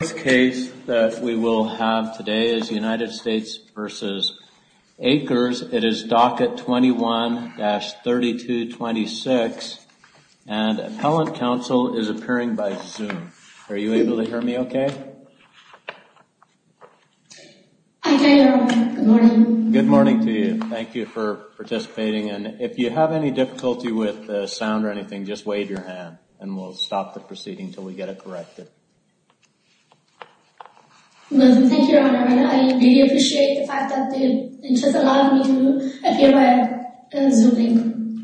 The first case that we will have today is United States v. Akers. It is Docket 21-3226 and Appellant Counsel is appearing by Zoom. Are you able to hear me okay? Good morning. Good morning to you. Thank you for participating. And if you have any difficulty with sound or anything, just wave your hand and we'll stop the proceeding until we get corrected. Thank you, Your Honor. I really appreciate the fact that they just allowed me to appear by Zooming.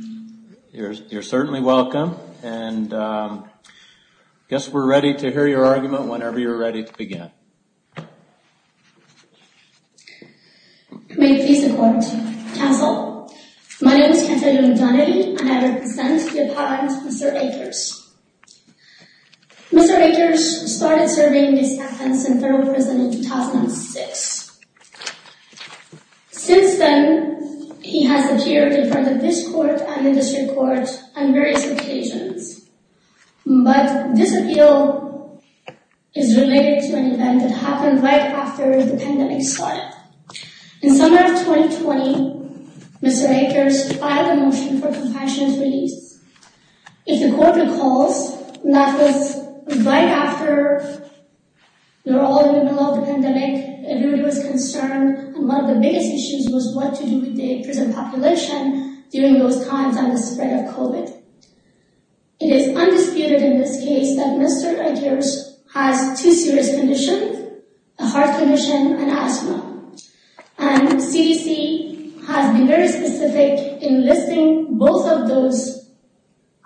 You're certainly welcome. And I guess we're ready to hear your argument whenever you're ready to begin. May it please the Court. Counsel, my name is Cantalina Akers. Mr. Akers started serving his sentence in federal prison in 2006. Since then, he has appeared in front of this Court and the District Court on various occasions. But this appeal is related to an event that happened right after the pandemic started. In summer of 2020, Mr. Akers filed a motion for compassionate release. If the Court recalls, that was right after we were all in the middle of the pandemic. Everybody was concerned. And one of the biggest issues was what to do with the prison population during those times and the spread of COVID. It is undisputed in this case that Mr. Akers has two serious conditions, a heart condition and asthma. And CDC has been very specific in listing both of those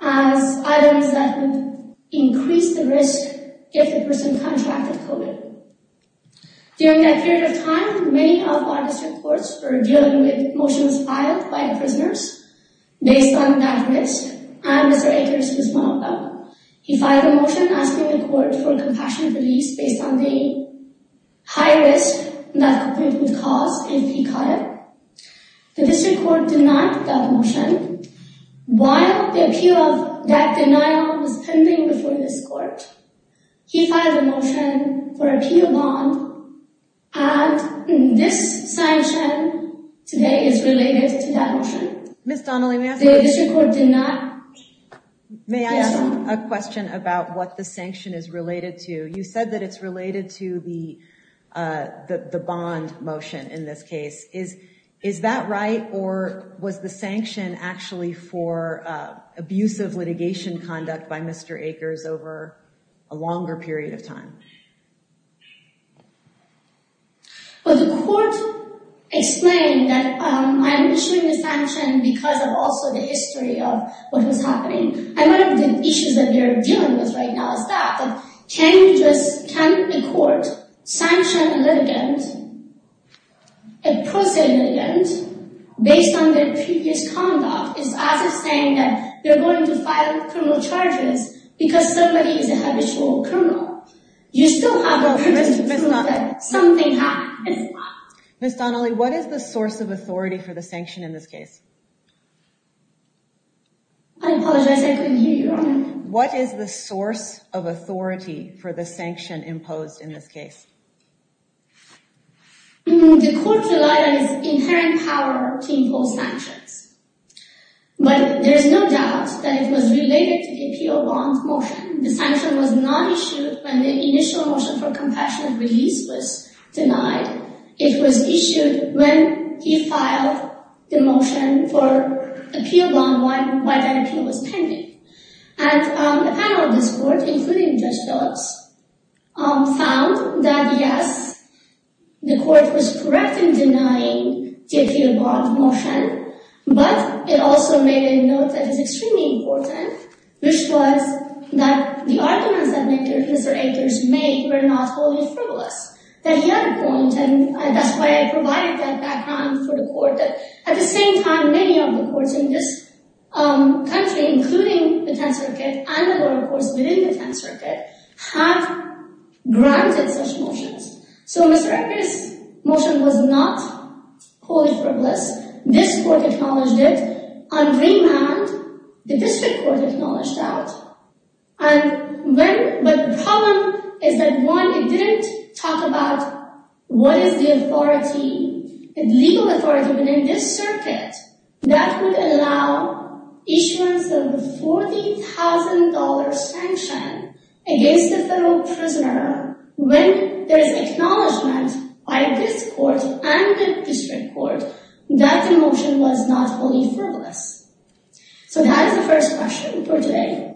as items that would increase the risk if a person contracted COVID. During that period of time, many of our district courts were dealing with motions filed by prisoners based on that risk. And Mr. Akers was one of them. He filed a motion asking the Court for compassionate release based on the high risk that it would cause if he caught it. The District Court denied that motion. While the appeal of that denial was pending before this Court, he filed a motion for appeal bond. And this sanction today is related to that motion. Ms. Donnelly, may I ask a question about what the sanction is related to? You said that it's related to the bond motion in this case. Is that right? Or was the sanction actually for abusive litigation conduct by Mr. Akers over a longer period of time? Well, the Court explained that I am issuing the sanction because of also the history of what was happening. And one of the issues that we are dealing with right now is that can a court sanction a litigant, a prosaic litigant, based on their previous conduct? It's as if saying that you're going to file criminal charges because somebody is a habitual criminal. You still have the privilege to prove that something happened. Ms. Donnelly, what is the source of authority for the sanction in this case? I apologize, I couldn't hear you. What is the source of authority for the sanction imposed in this case? The Court relied on its inherent power to impose sanctions. But there is no doubt that it was related to the appeal bond motion. The sanction was not issued when the initial motion for compassionate release was denied. It was issued when he filed the motion for appeal bond while that appeal was pending. And the panel of this Court, including Judge Phillips, found that yes, the Court was correct in denying the appeal bond motion, but it also made a note that is extremely important, which was that the arguments that Mr. Akers made were not wholly frivolous. That he had a point, and that's why I provided that background for the Court, that at the same time, many of the courts in this country, including the 10th Circuit and the lower courts within the 10th Circuit, have granted such motions. So Mr. Akers' motion was not wholly frivolous. This Court acknowledged it on remand. The District Court acknowledged that. But the problem is that one, it didn't talk about what is the authority, the legal authority within this Circuit that would allow issuance of the $40,000 sanction against a federal prisoner when there's acknowledgment by this Court and the District Court that the motion was not wholly frivolous. So that is the first question for today.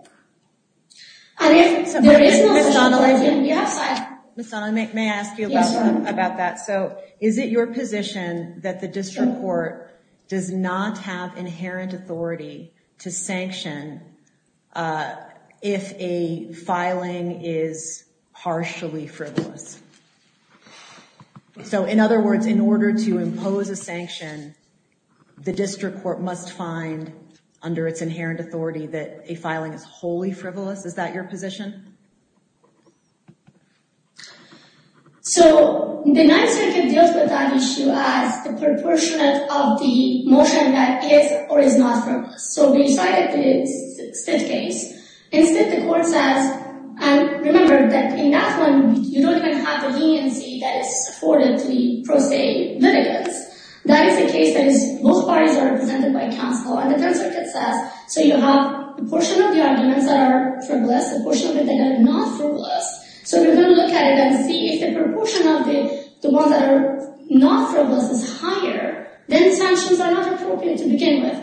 And if there is no question, we have time. Ms. Sonnen, may I ask you about that? So is it your position that the District Court does not have inherent authority to sanction if a filing is partially frivolous? So in other words, in order to impose a sanction, the District Court must find, under its inherent authority, that a filing is wholly frivolous? Is that your position? So the 9th Circuit deals with that issue as the proportionate of the motion that is or is not frivolous. So we cited the Stitt case. In Stitt, the Court says, and remember that in that one, you don't even have the leniency that is afforded to the pro se litigants. That is the case that most parties are represented by counsel. And the 10th Circuit says, so you have a portion of the arguments that are frivolous, a portion of it that are not frivolous. So we're going to look at it and see if the proportion of the ones that are not frivolous is higher, then sanctions are not appropriate to begin with.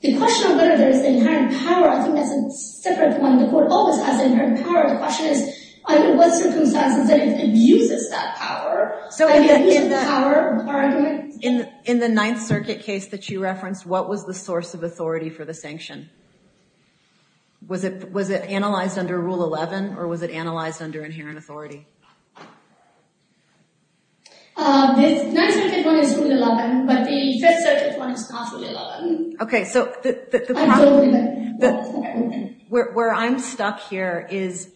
The question of whether there is inherent power, I think that's a separate one. The Court always has inherent power. The question is, under what circumstances that it abuses that power? So in the power argument? In the 9th Circuit case that you referenced, what was the source of authority for the sanction? Was it analyzed under Rule 11, or was it analyzed under inherent authority? The 9th Circuit one is Rule 11, but the 5th Circuit one is not Rule 11. Okay, so where I'm stuck here is,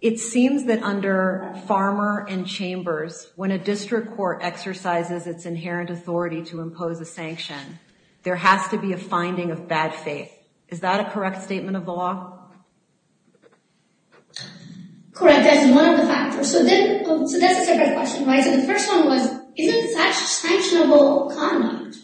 it seems that under farmer and chambers, when a district court exercises its inherent authority to impose a sanction, there has to be a finding of bad faith. Is that a correct statement of the law? Correct. That's one of the factors. So that's a separate question. So the first one was, isn't such sanctionable conduct?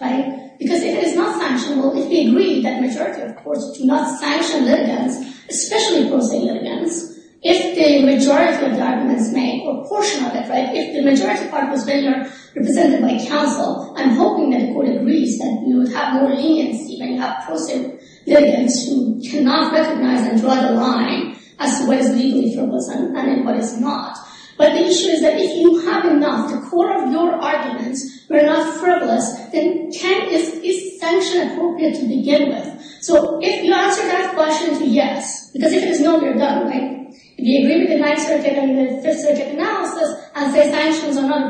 Because if it is not sanctionable, if we agree that majority of courts do not sanction litigants, especially pro se litigants, if the majority of the arguments make a portion of it, if the majority of the arguments are represented by counsel, I'm hoping that the Court agrees that we would have more leniency when you have pro se litigants who cannot recognize and draw the line as to what is legally frivolous and what is not. But the issue is that if you have enough, the core of your arguments were not frivolous, then is sanction appropriate to begin with? So if you answer that question to yes, because if it is no, you're done, right? If you agree with the 9th Circuit and the 5th Circuit analysis and say sanctions are not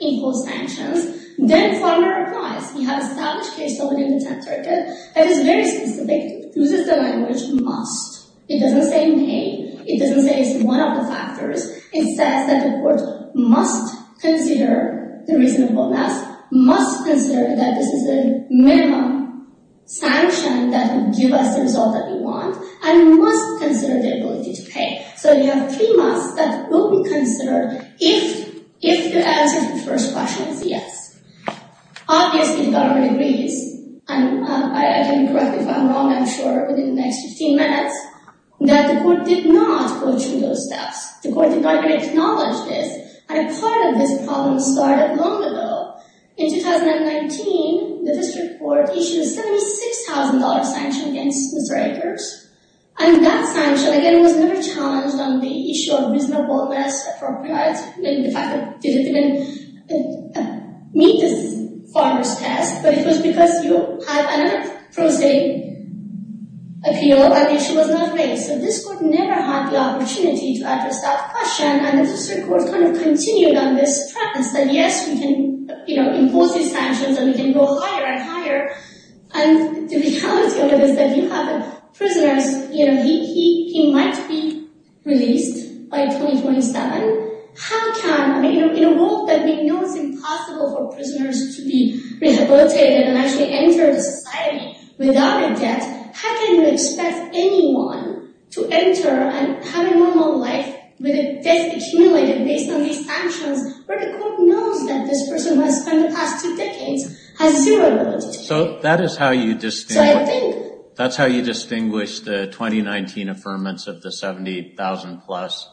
reasonable sanctions, then farmer replies, we have established case law within the 10th Circuit that is very specific, uses the language must. It doesn't say may. It doesn't say it's one of the factors. It says that the Court must consider the reasonableness, must consider that this is a minimum sanction that will give us the result that we want, and must consider the ability to pay. So you have three musts that will be considered if you answer the first question as yes. Obviously, the Government agrees, and I can correct if I'm wrong, I'm sure, within the next 15 minutes, that the Court did not go through those steps. The Court did not acknowledge this, and part of this problem started long ago. In 2019, the District Court issued a $76,000 sanction against Mr. Akers, and that sanction, again, was never challenged on the issue of reasonableness, appropriateness, maybe the fact that it didn't even meet this farmer's test, but it was because you have another prosaic appeal, and the issue was not raised. So this Court never had the opportunity to address that question, and the District Court kind of continued on this premise that yes, we can impose these sanctions, and we can go higher and higher, and the reality of it is that you have prisoners, you know, he might be released by 2027. How can, I mean, in a world that we know is impossible for prisoners to be rehabilitated and actually enter the society without a debt, how can you expect anyone to enter and have a normal life with a debt accumulated based on these sanctions, where the Court knows that this That is how you distinguish the 2019 affirmance of the $78,000 plus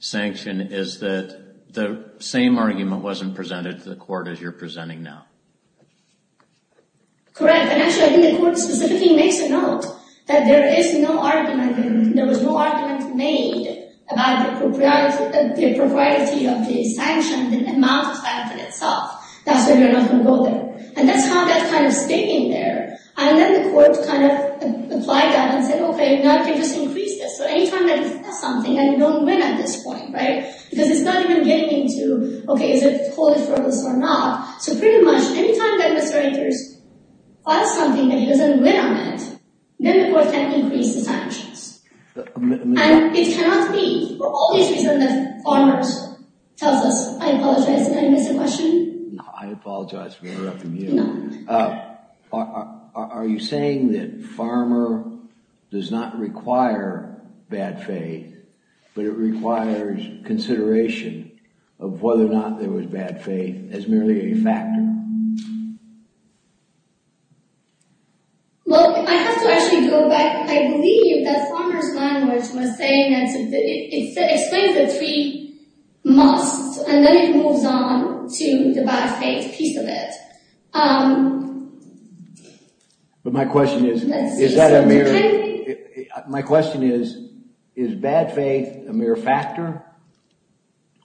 sanction, is that the same argument wasn't presented to the Court as you're presenting now. Correct, and actually, I think the Court specifically makes a note that there is no argument, and there was no argument made about the propriety of the sanction, the amount of And that's how that kind of stayed in there, and then the Court kind of applied that and said, okay, now you can just increase this, so any time that he does something that you don't win at this point, right, because it's not even getting into, okay, is it wholly frivolous or not, so pretty much any time that Mr. Anchors does something that he doesn't win on it, then the Court can increase the sanctions, and it cannot be for all these reasons that Farmers tells us, I apologize Did I miss a question? No, I apologize for interrupting you. Are you saying that Farmer does not require bad faith, but it requires consideration of whether or not there was bad faith as merely a factor? Well, I have to actually go back, I believe that Farmer's language was to the bad faith piece of it. But my question is, is that a mere, my question is, is bad faith a mere factor,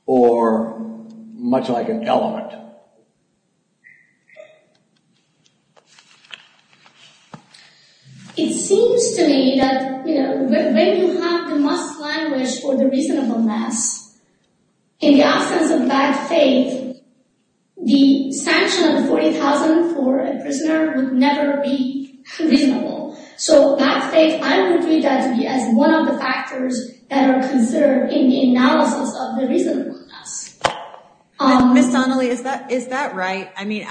or much like an element? It seems to me that, you know, when you have the must language for the reasonableness, in the absence of bad faith, the sanction of $40,000 for a prisoner would never be reasonable, so bad faith, I would treat that to be as one of the factors that are considered in the analysis of the reasonableness. Ms. Donnelly, is that right? I mean,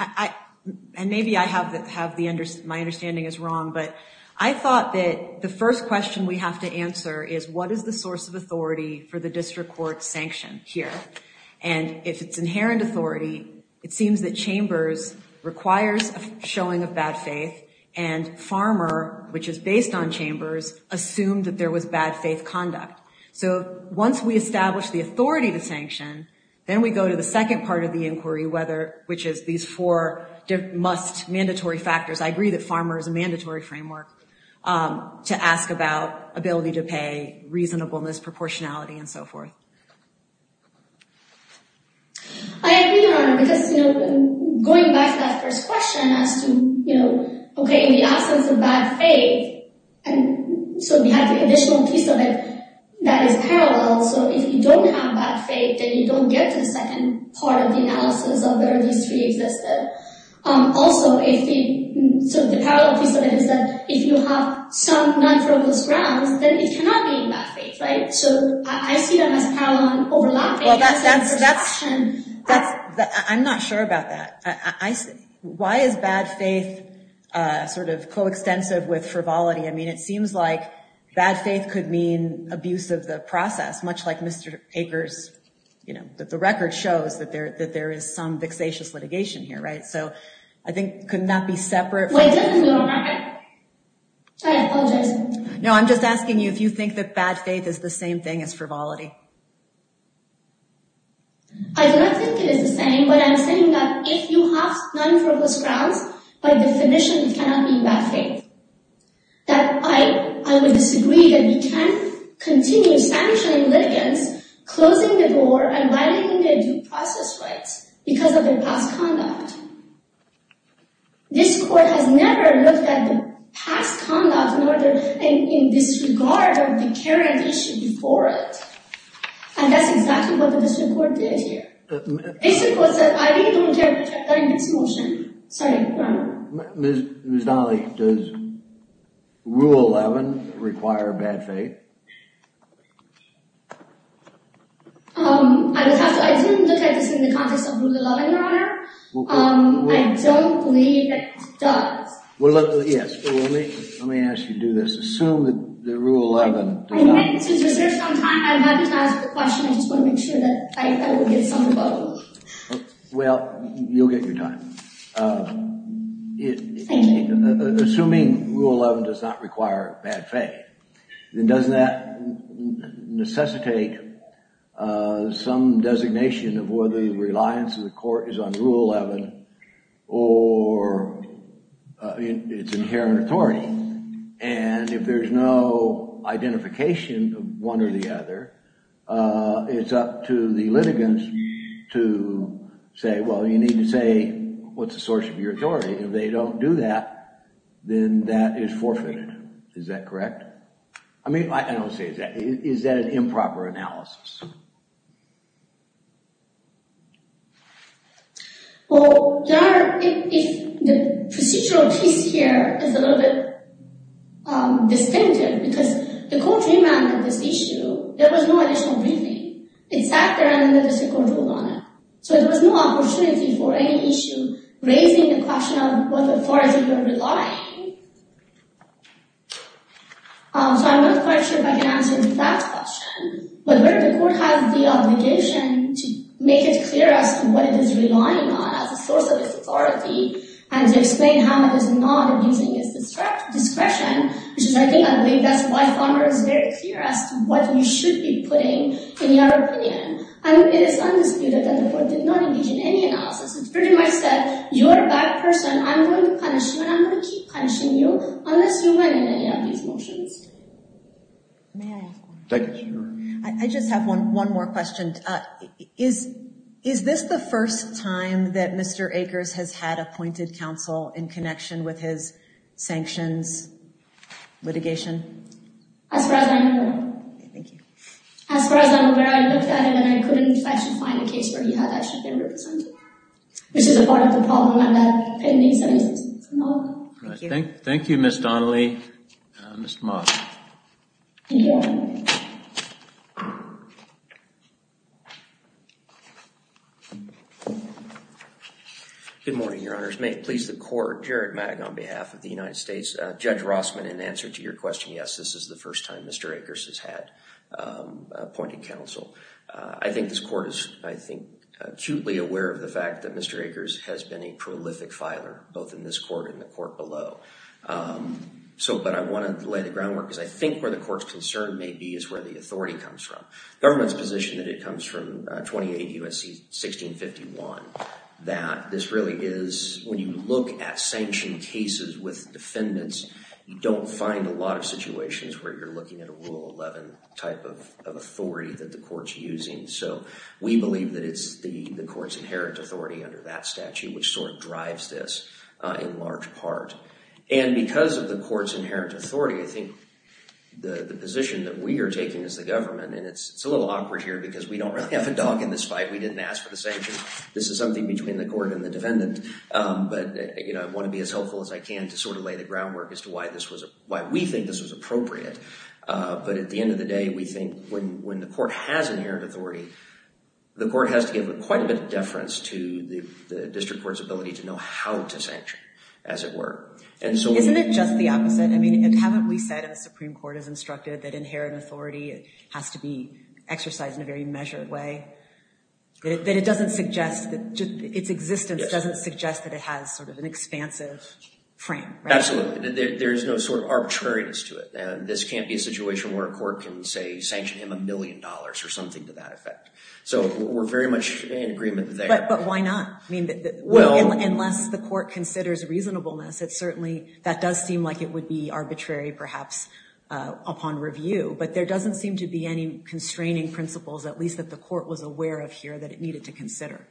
and maybe I have the, my understanding is wrong, but I thought that the first question we have to answer is what is the source of authority for the district court sanction here? And if it's inherent authority, it seems that Chambers requires a showing of bad faith, and Farmer, which is based on Chambers, assumed that there was bad faith conduct. So once we establish the authority to sanction, then we go to the second part of the inquiry, whether, which is these four must mandatory factors. I agree that Farmer is a and so forth. I agree, Your Honor, because, you know, going back to that first question as to, you know, okay, in the absence of bad faith, and so we have the additional piece of it that is parallel, so if you don't have bad faith, then you don't get to the second part of the analysis of whether this really existed. Also, if the, so the parallel piece of it is that if you have some non-frivolous grounds, then it cannot be in bad faith, right? So I see them as parallel overlapping. Well, that's, that's, that's, that's, I'm not sure about that. I, I, why is bad faith sort of coextensive with frivolity? I mean, it seems like bad faith could mean abuse of the process, much like Mr. Akers, you know, that the record shows that there, that there is some I apologize. No, I'm just asking you if you think that bad faith is the same thing as frivolity. I do not think it is the same, but I'm saying that if you have non-frivolous grounds, by definition, it cannot be in bad faith. That I, I would disagree that you can continue sanctioning litigants, closing the door, and violating their due process rights because of their past conduct. This Court has never looked at the past conduct in order, in disregard of the current issue before it. And that's exactly what the district court did here. The district court said, I really don't care if you're cutting this motion. Sorry, go on. Ms. Donnelly, does Rule 11 require bad faith? Um, I would have to, I didn't look at this in the context of Rule 11, Your Honor. Um, I don't believe it does. Well, yes, let me, let me ask you to do this. Assume that the Rule 11 does not require bad faith. Well, you'll get your time. Assuming Rule 11 does not require bad faith, then doesn't that necessitate uh, some designation of whether the reliance of the Court is on Rule 11 or its inherent authority? And if there's no identification of one or the other, uh, it's up to the litigants to say, well, you need to say what's the source of your authority. If they don't do that, then that is forfeited. Is that correct? I mean, I don't say that. Is that an improper analysis? Well, there are, if, if the procedural piece here is a little bit, um, distinctive because the Court remanded this issue, there was no additional briefing. It sat there and then the District Court ruled on it. So there was no opportunity for any issue raising the question of what authority you're relying. So I'm not quite sure if I can answer that question, but where the Court has the obligation to make it clear as to what it is relying on as a source of its authority and to explain how it is not abusing its discretion, which is, I think, I believe that's why Farmer is very clear as to what you should be putting in your opinion. And it is undisputed that the Court did not pretty much said, you're a bad person. I'm going to punish you and I'm going to keep punishing you unless you amend any of these motions. I just have one, one more question. Is, is this the first time that Mr. Akers has had appointed counsel in connection with his sanctions litigation? As far as I know, as far as I'm aware, I looked at it and I couldn't actually find a case where he had actually been represented. This is a part of the problem. Thank you, Ms. Donnelly. Mr. Moss. Good morning, Your Honors. May it please the Court, Jared Magg on behalf of the United States. Judge Rossman, in answer to your question, yes, this is the first time Mr. Akers has had appointed counsel. I think this Court is, I think, acutely aware of the fact that Mr. Akers has been a prolific filer, both in this Court and the Court below. So, but I wanted to lay the groundwork because I think where the Court's concern may be is where the authority comes from. Government's position that it comes from 28 U.S.C. 1651, that this really is, when you look at sanctioned cases with defendants, you don't find a lot of situations where you're looking at a Rule 11 type of authority that the Court's using. So, we believe that it's the Court's inherent authority under that statute which sort of drives this in large part. And because of the Court's inherent authority, I think the position that we are taking as the government, and it's a little awkward here because we don't really have a dog in this fight. We didn't ask for the sanctions. This is something between the Court and the defendant. But, you know, I want to be as helpful as I can to sort of lay the groundwork as to why this was, why we think this was appropriate. But at the end of the day, we think when the Court has inherent authority, the Court has to give quite a bit of deference to the District Court's ability to know how to sanction, as it were. And so... Isn't it just the opposite? I mean, haven't we said in the Supreme Court, as instructed, that inherent authority has to be exercised in a very measured way? That it doesn't suggest, that its existence doesn't suggest that it has sort of an expansive frame, right? Absolutely. There's no sort of arbitrariness to it. This can't be a situation where a court can, say, sanction him a million dollars or something to that effect. So we're very much in agreement there. But why not? I mean, unless the Court considers reasonableness, it certainly, that does seem like it would be arbitrary perhaps upon review. But there doesn't seem to be any constraining principles, at least that the Court was aware of here, that it needed to consider.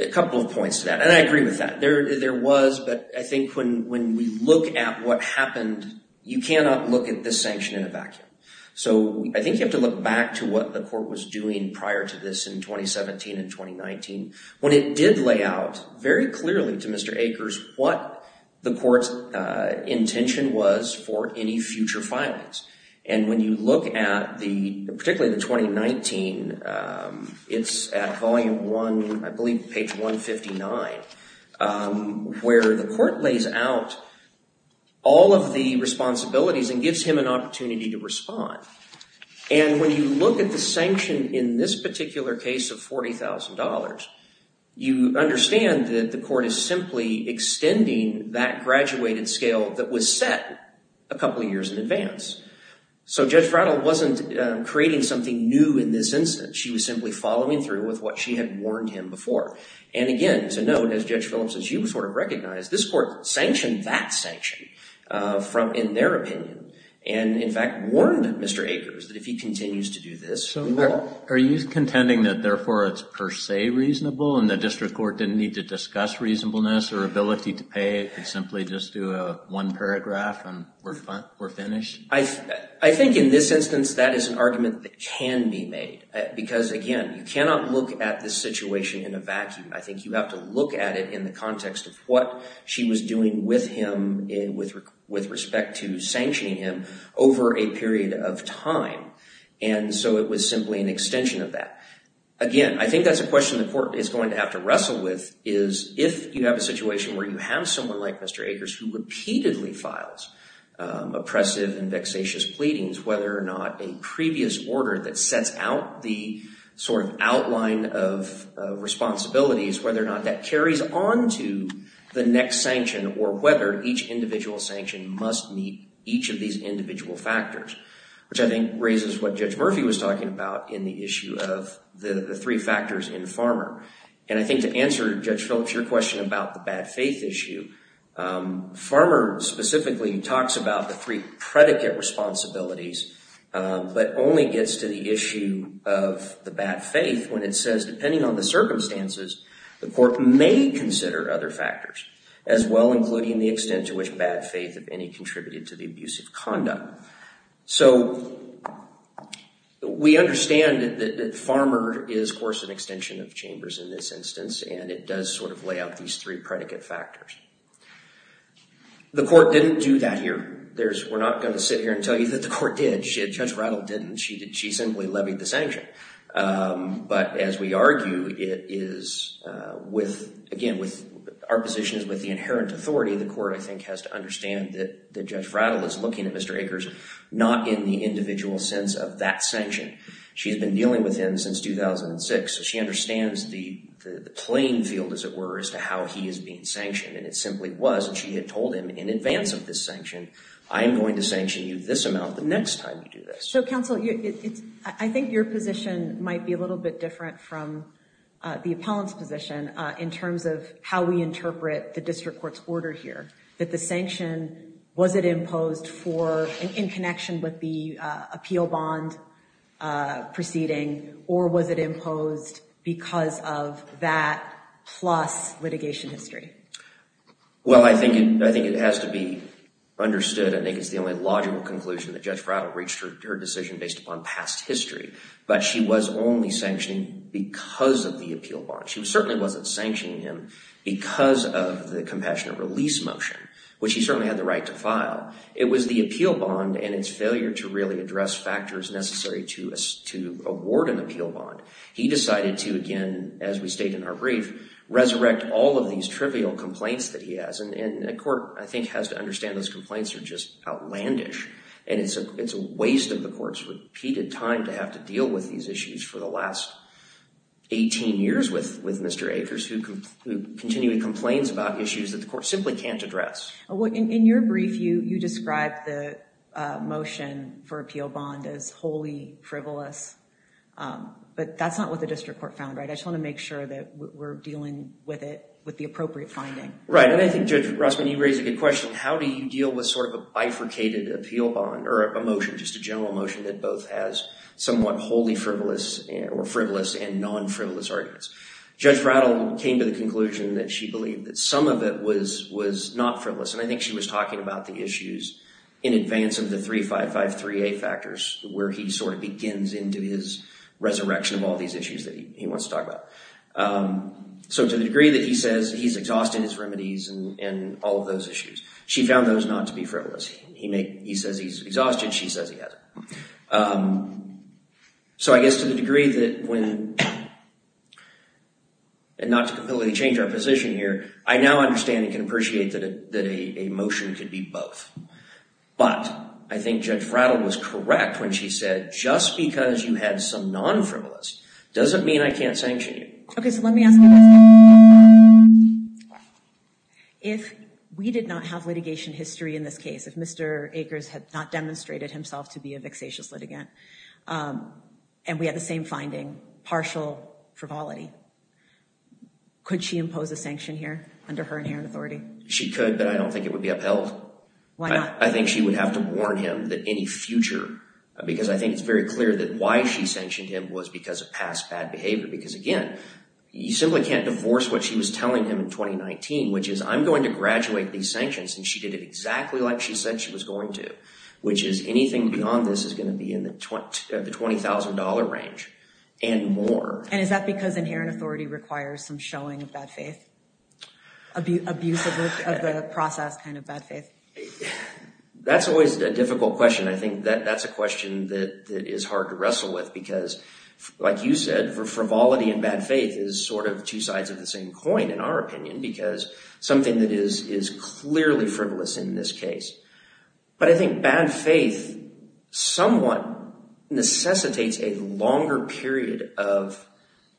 A couple of points to that. And I agree with that. There was, but I think when we look at what happened, you cannot look at this sanction in a vacuum. So I think you have to look back to what the Court was doing prior to this in 2017 and 2019, when it did lay out very clearly to Mr. Akers what the Court's intention was for any future filings. And when you look at particularly the 2019, it's at volume one, I believe page 159, where the Court lays out all of the responsibilities and gives him an opportunity to respond. And when you look at the sanction in this particular case of $40,000, you understand that the Court is simply extending that graduated scale that was set a couple of years in advance. So Judge Rattle wasn't creating something new in this instance. She was simply following through with what she had warned him before. And again, to note, as Judge Phillips and she sort of recognized, this Court sanctioned that sanction from, in their opinion, and in fact warned Mr. Akers that if he continues to do this, we will. So are you contending that therefore it's per se reasonable and the District Court didn't need to discuss reasonableness or ability to pay, and simply just do a one paragraph and we're finished? I think in this instance, that is an argument that can be made. Because again, you cannot look at this situation in a vacuum. I think you have to look at it in the context of what she was doing with him with respect to sanctioning him over a period of time. And so it was simply an extension of that. Again, I think that's a question the Court is going to have to wrestle with, is if you have a situation where you have someone like Mr. Akers who repeatedly files oppressive and vexatious pleadings, whether or not a previous order that sets out the sort of outline of responsibilities, whether or not that carries on to the next sanction, or whether each individual sanction must meet each of these individual factors, which I think raises what Judge Murphy was talking about in the issue of the three factors in Farmer. And I think to answer Judge Phillips, your question about the bad faith issue, Farmer specifically talks about the three predicate responsibilities, but only gets to the issue of the bad faith when it says, depending on the circumstances, the Court may consider other factors, as well, including the extent to which bad faith, if any, contributed to the abuse of conduct. So we understand that Farmer is, of chambers in this instance, and it does sort of lay out these three predicate factors. The Court didn't do that here. We're not going to sit here and tell you that the Court did. Judge Rattle didn't. She simply levied the sanction. But as we argue, it is with, again, with our positions with the inherent authority, the Court, I think, has to understand that Judge Rattle is looking at Mr. Akers, not in the individual sense of that sanction. She's been dealing with him since 2006, so she understands the playing field, as it were, as to how he is being sanctioned. And it simply was, and she had told him in advance of this sanction, I am going to sanction you this amount the next time you do this. So, counsel, I think your position might be a little bit different from the appellant's position in terms of how we interpret the District Court's order here, that the sanction, was it imposed for, in connection with the appeal bond proceeding, or was it imposed because of that plus litigation history? Well, I think it has to be understood. I think it's the only logical conclusion that Judge Rattle reached her decision based upon past history. But she was only sanctioning because of the appeal bond. She certainly wasn't sanctioning him because of the compassionate release motion, which he certainly had the right to file. It was the appeal bond and its failure to really address factors necessary to award an appeal bond. He decided to, again, as we state in our brief, resurrect all of these trivial complaints that he has. And the Court, I think, has to understand those complaints are just outlandish. And it's a waste of the Court's repeated time to have to deal with these issues for the last 18 years with Mr. Akers, who continually complains about issues that the Court has to deal with. In your brief, you describe the motion for appeal bond as wholly frivolous. But that's not what the District Court found, right? I just want to make sure that we're dealing with it with the appropriate finding. Right. And I think, Judge Rossman, you raise a good question. How do you deal with sort of a bifurcated appeal bond or a motion, just a general motion, that both has somewhat wholly frivolous or frivolous and non-frivolous arguments? Judge Rattle came to the conclusion that she believed that some of it was not frivolous. And I think she was talking about the issues in advance of the 355-3A factors, where he sort of begins into his resurrection of all these issues that he wants to talk about. So to the degree that he says he's exhausted his remedies and all of those issues, she found those not to be frivolous. He says he's exhausted. She says he hasn't. So I guess to the degree that when, and not to completely change our position here, I now understand and can appreciate that a motion could be both. But I think Judge Rattle was correct when she said, just because you had some non-frivolous doesn't mean I can't sanction you. Okay, so let me ask you this. If we did not have litigation history in this case, if Mr. Rattle demonstrated himself to be a vexatious litigant, and we had the same finding, partial frivolity, could she impose a sanction here under her inherent authority? She could, but I don't think it would be upheld. Why not? I think she would have to warn him that any future, because I think it's very clear that why she sanctioned him was because of past bad behavior. Because again, you simply can't divorce what she was telling him in 2019, which is, I'm going to anything beyond this is going to be in the $20,000 range and more. And is that because inherent authority requires some showing of bad faith? Abuse of the process kind of bad faith? That's always a difficult question. I think that that's a question that is hard to wrestle with, because like you said, frivolity and bad faith is sort of two sides of the same coin in our opinion, because something that is clearly frivolous in this case. But I think bad faith somewhat necessitates a longer period of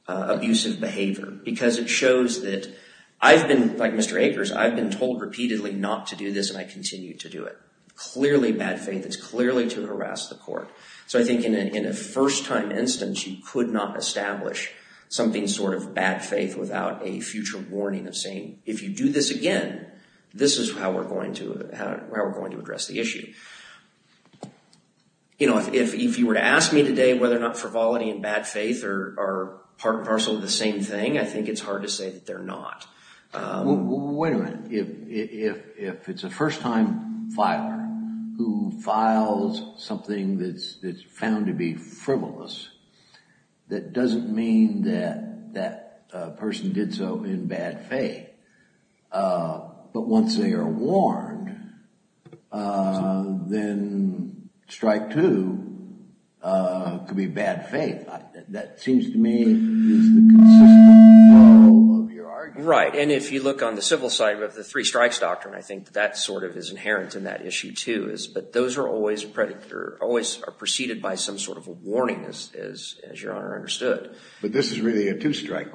abusive behavior, because it shows that I've been, like Mr. Akers, I've been told repeatedly not to do this, and I continue to do it. Clearly bad faith is clearly to harass the court. So I think in a first time instance, you could not establish something sort of bad faith without a future warning of saying, if you do this again, this is how we're going to address the issue. You know, if you were to ask me today whether or not frivolity and bad faith are part and parcel of the same thing, I think it's hard to say that they're not. Wait a minute. If it's a first time filer who files something that's found to be frivolous, that doesn't mean that that person did so in bad faith. But once they are warned, then strike two could be bad faith. That seems to me is the consistent flow of your argument. Right. And if you look on the civil side of the three strikes doctrine, I think that sort of is inherent in that issue too, is that those are always a predator, always are preceded by some warning, as your Honor understood. But this is really a two strike.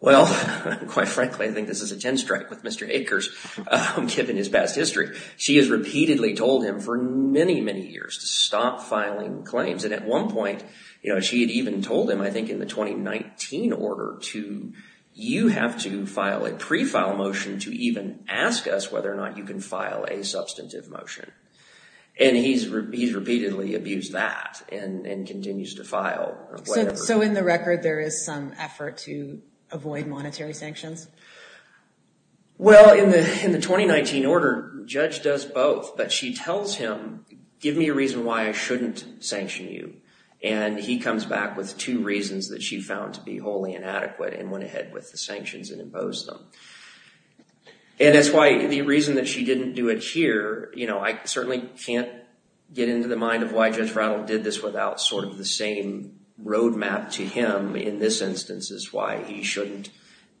Well, quite frankly, I think this is a 10 strike with Mr. Akers, given his past history. She has repeatedly told him for many, many years to stop filing claims. And at one point, she had even told him, I think in the 2019 order, you have to file a pre-file motion to even ask us whether or not you can file a substantive motion. And he's repeatedly abused that and continues to file. So in the record, there is some effort to avoid monetary sanctions? Well, in the 2019 order, the judge does both, but she tells him, give me a reason why I shouldn't sanction you. And he comes back with two reasons that she found to be wholly inadequate and went with the sanctions and imposed them. And that's why the reason that she didn't do it here, I certainly can't get into the mind of why Judge Rattle did this without sort of the same roadmap to him in this instance is why he shouldn't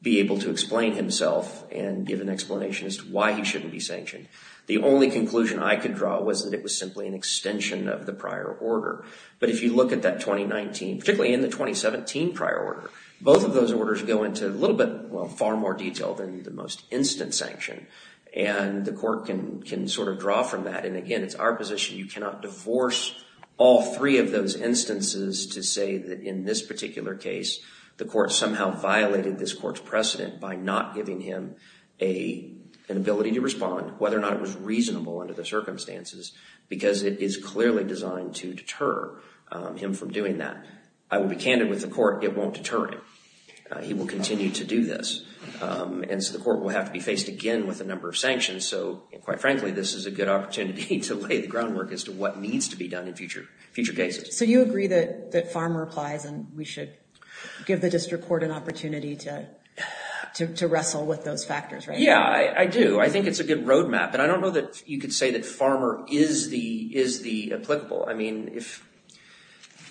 be able to explain himself and give an explanation as to why he shouldn't be sanctioned. The only conclusion I could draw was that it was simply an extension of the prior order. But if you look at that 2019, particularly in the 2017 prior order, both of those orders go into a little bit, well, far more detail than the most instant sanction. And the court can sort of draw from that. And again, it's our position, you cannot divorce all three of those instances to say that in this particular case, the court somehow violated this court's precedent by not giving him an ability to respond, whether or not it was reasonable under the circumstances, because it is clearly designed to deter him from doing that. I will be candid with the court, it won't deter him. He will continue to do this. And so the court will have to be faced again with a number of sanctions. So quite frankly, this is a good opportunity to lay the groundwork as to what needs to be done in future cases. So you agree that Farmer applies and we should give the district court an opportunity to wrestle with those factors, right? Yeah, I do. I think it's a good roadmap. And I don't know that you could say that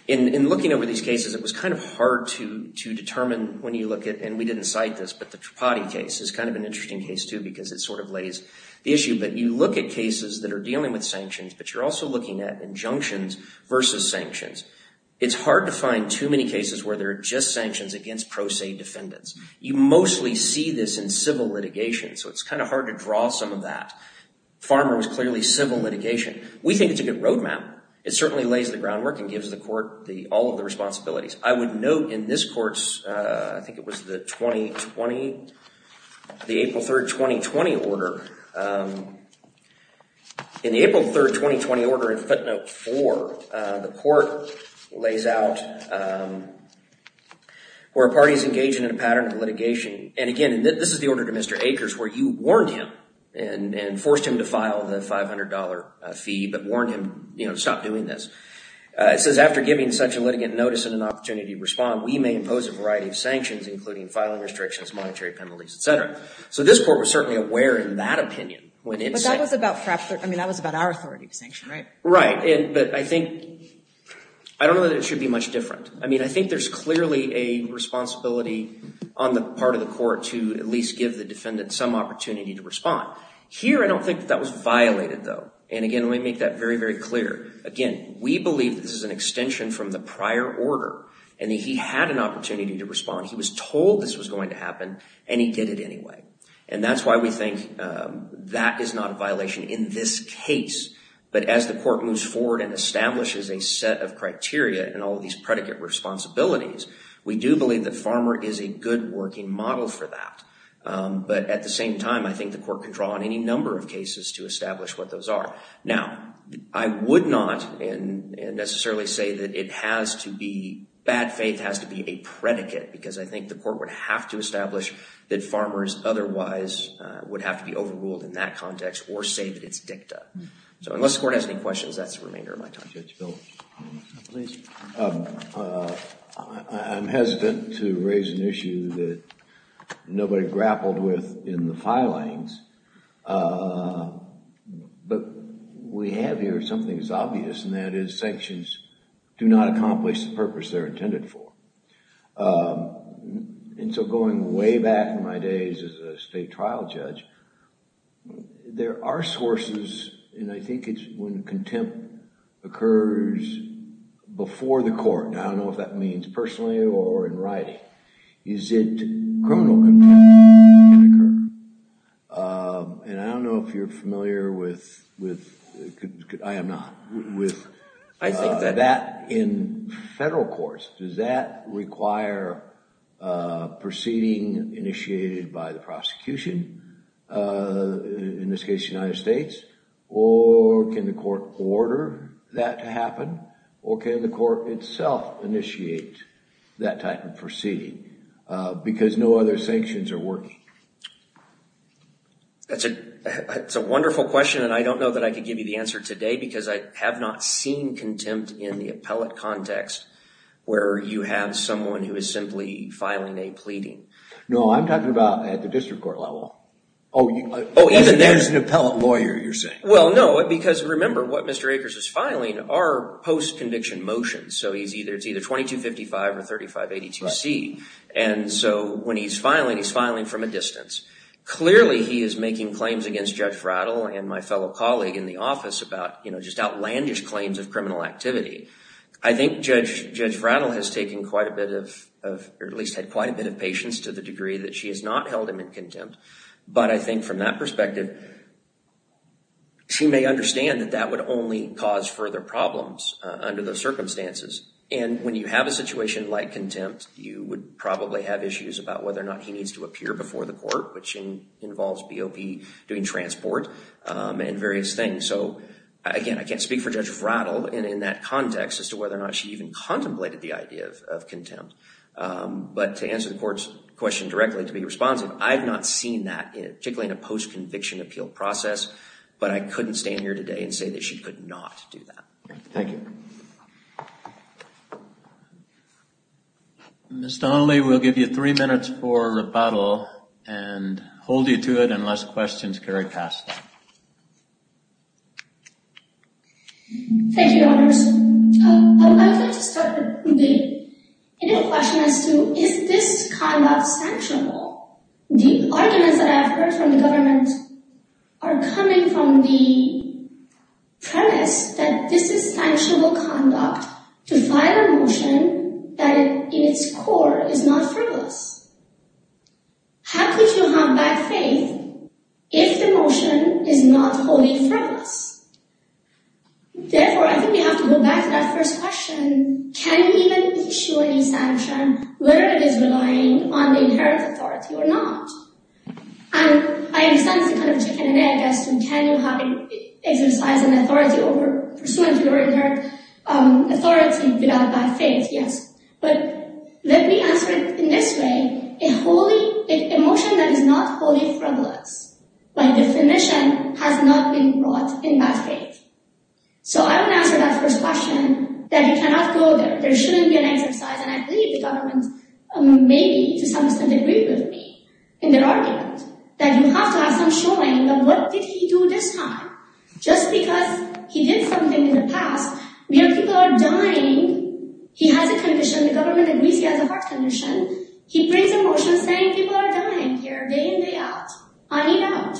in looking over these cases, it was kind of hard to determine when you look at, and we didn't cite this, but the Tripati case is kind of an interesting case too, because it sort of lays the issue. But you look at cases that are dealing with sanctions, but you're also looking at injunctions versus sanctions. It's hard to find too many cases where there are just sanctions against pro se defendants. You mostly see this in civil litigation. So it's kind of hard to draw some of that. Farmer was clearly civil litigation. We think it's a good roadmap. It certainly lays the groundwork and gives the court all of the responsibilities. I would note in this court's, I think it was the 2020, the April 3rd, 2020 order. In the April 3rd, 2020 order in footnote four, the court lays out where a party is engaging in a pattern of litigation. And again, this is the order to Mr. Akers where you warned him and forced him to file the $500 fee, but warned him to stop doing this. It says, after giving such a litigant notice and an opportunity to respond, we may impose a variety of sanctions, including filing restrictions, monetary penalties, et cetera. So this court was certainly aware in that opinion. But that was about our authority to sanction, right? Right. But I think, I don't know that it should be much different. I mean, I think there's clearly a responsibility on the part of the court to at least give the defendant some opportunity to And again, let me make that very, very clear. Again, we believe that this is an extension from the prior order and that he had an opportunity to respond. He was told this was going to happen and he did it anyway. And that's why we think that is not a violation in this case. But as the court moves forward and establishes a set of criteria and all of these predicate responsibilities, we do believe that Farmer is a good working model for that. But at the same time, I think the court can draw on any number of cases to establish what those are. Now, I would not necessarily say that it has to be, bad faith has to be a predicate, because I think the court would have to establish that Farmers otherwise would have to be overruled in that context or say that it's dicta. So unless the court has any questions, that's the remainder of my time. I'm hesitant to raise an issue that nobody grappled with in the filings. But we have here something that's obvious and that is sanctions do not accomplish the purpose they're intended for. And so going way back in my days as a state trial judge, there are sources, and I think it's when contempt occurs before the court, and I don't know if that means personally or in writing, is it criminal contempt that can occur. And I don't know if you're familiar with, I am not, with that in federal courts. Does that require a proceeding initiated by the prosecution, in this case United States, or can the court order that to happen, or can the court itself initiate that type of proceeding, because no other sanctions are working? That's a wonderful question, and I don't know that I could give you the answer today, because I have not seen contempt in the appellate context where you have someone who is simply filing a pleading. No, I'm talking about at the district court level. Oh, there's an appellate lawyer, you're saying. Well, no, because remember what Mr. Akers is filing are post-conviction motions. So it's either 2255 or 3582C. And so when he's filing, he's filing from a distance. Clearly he is making claims against Judge Frattle and my fellow colleague in the office about just outlandish claims of criminal activity. I think Judge Frattle has taken quite a bit of, or at least had quite a bit of patience to the degree that she has not held him in contempt. But I think from that perspective, she may understand that that would only cause further problems under those circumstances. And when you have a situation like contempt, you would probably have issues about whether or not he needs to appear before the court, which involves BOP doing transport and various things. So again, I can't speak for contemplated the idea of contempt, but to answer the court's question directly, to be responsive, I've not seen that particularly in a post-conviction appeal process, but I couldn't stand here today and say that she could not do that. Thank you. Ms. Donnelly, we'll give you three minutes for rebuttal and hold you to it unless questions carry past. Thank you, Your Honours. I would like to start with the question as to is this conduct sanctionable? The arguments that I've heard from the government are coming from the premise that this is sanctionable conduct to file a motion that in its core is not frivolous. How could you have bad faith if the motion is not wholly frivolous? Therefore, I think we have to go back to that first question. Can you even issue any sanction whether it is relying on the inherent authority or not? And I understand it's a kind of chicken and egg as to can you exercise an authority over pursuant to your inherent authority without a bad faith, yes. But let me answer it in this way. A motion that is not wholly frivolous by definition has not been brought in bad faith. So I would answer that first question that you cannot go there. There shouldn't be an exercise, and I believe the government maybe to some extent agree with me in their argument that you have to have some showing of what did he do this time. Just because he did something in the past where people are dying, he has a condition, the government agrees he has a heart condition, he brings a motion saying people are dying here day in day out. I need out.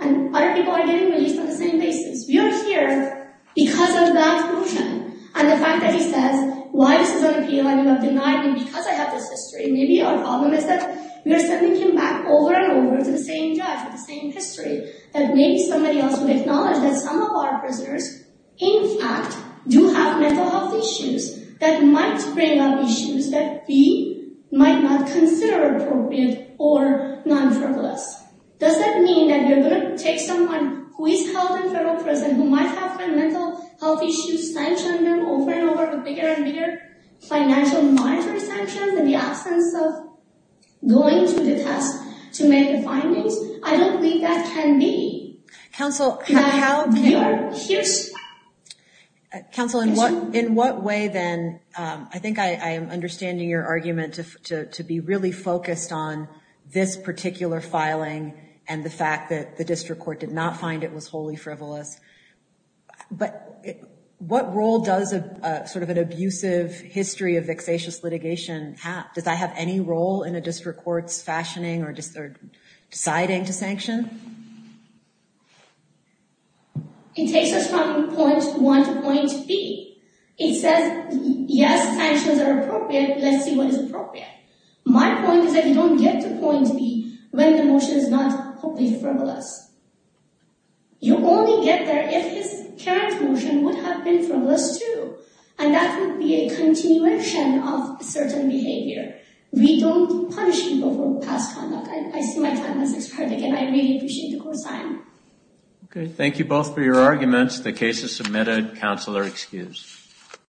And other people are getting released on the same basis. We are here because of that motion. And the fact that he says why this is unappealing, you have denied me because I have this history. Maybe our problem is that we are sending him back over and over to the same judge with the same history. That maybe somebody else would acknowledge that some of our prisoners, in fact, do have mental health issues that might bring up issues that we might not consider appropriate or non-frivolous. Does that mean that you're going to take someone who is held in federal prison who might have mental health issues, sanction them over and over with bigger and bigger financial monetary sanctions in the absence of going to the test to make the findings? I don't think that can be. Counsel, in what way then, I think I am understanding your argument to be really focused on this particular filing and the fact that the district court did not find it was wholly does I have any role in a district court's fashioning or deciding to sanction? It takes us from point one to point B. It says yes, sanctions are appropriate. Let's see what is appropriate. My point is that you don't get to point B when the motion is not wholly frivolous. You only get there if his current motion would have been frivolous too. And that would be a continuation of a certain behavior. We don't punish people for past conduct. I see my time as an expert again. I really appreciate the court's time. Okay, thank you both for your arguments. The case is submitted. Counselor excused.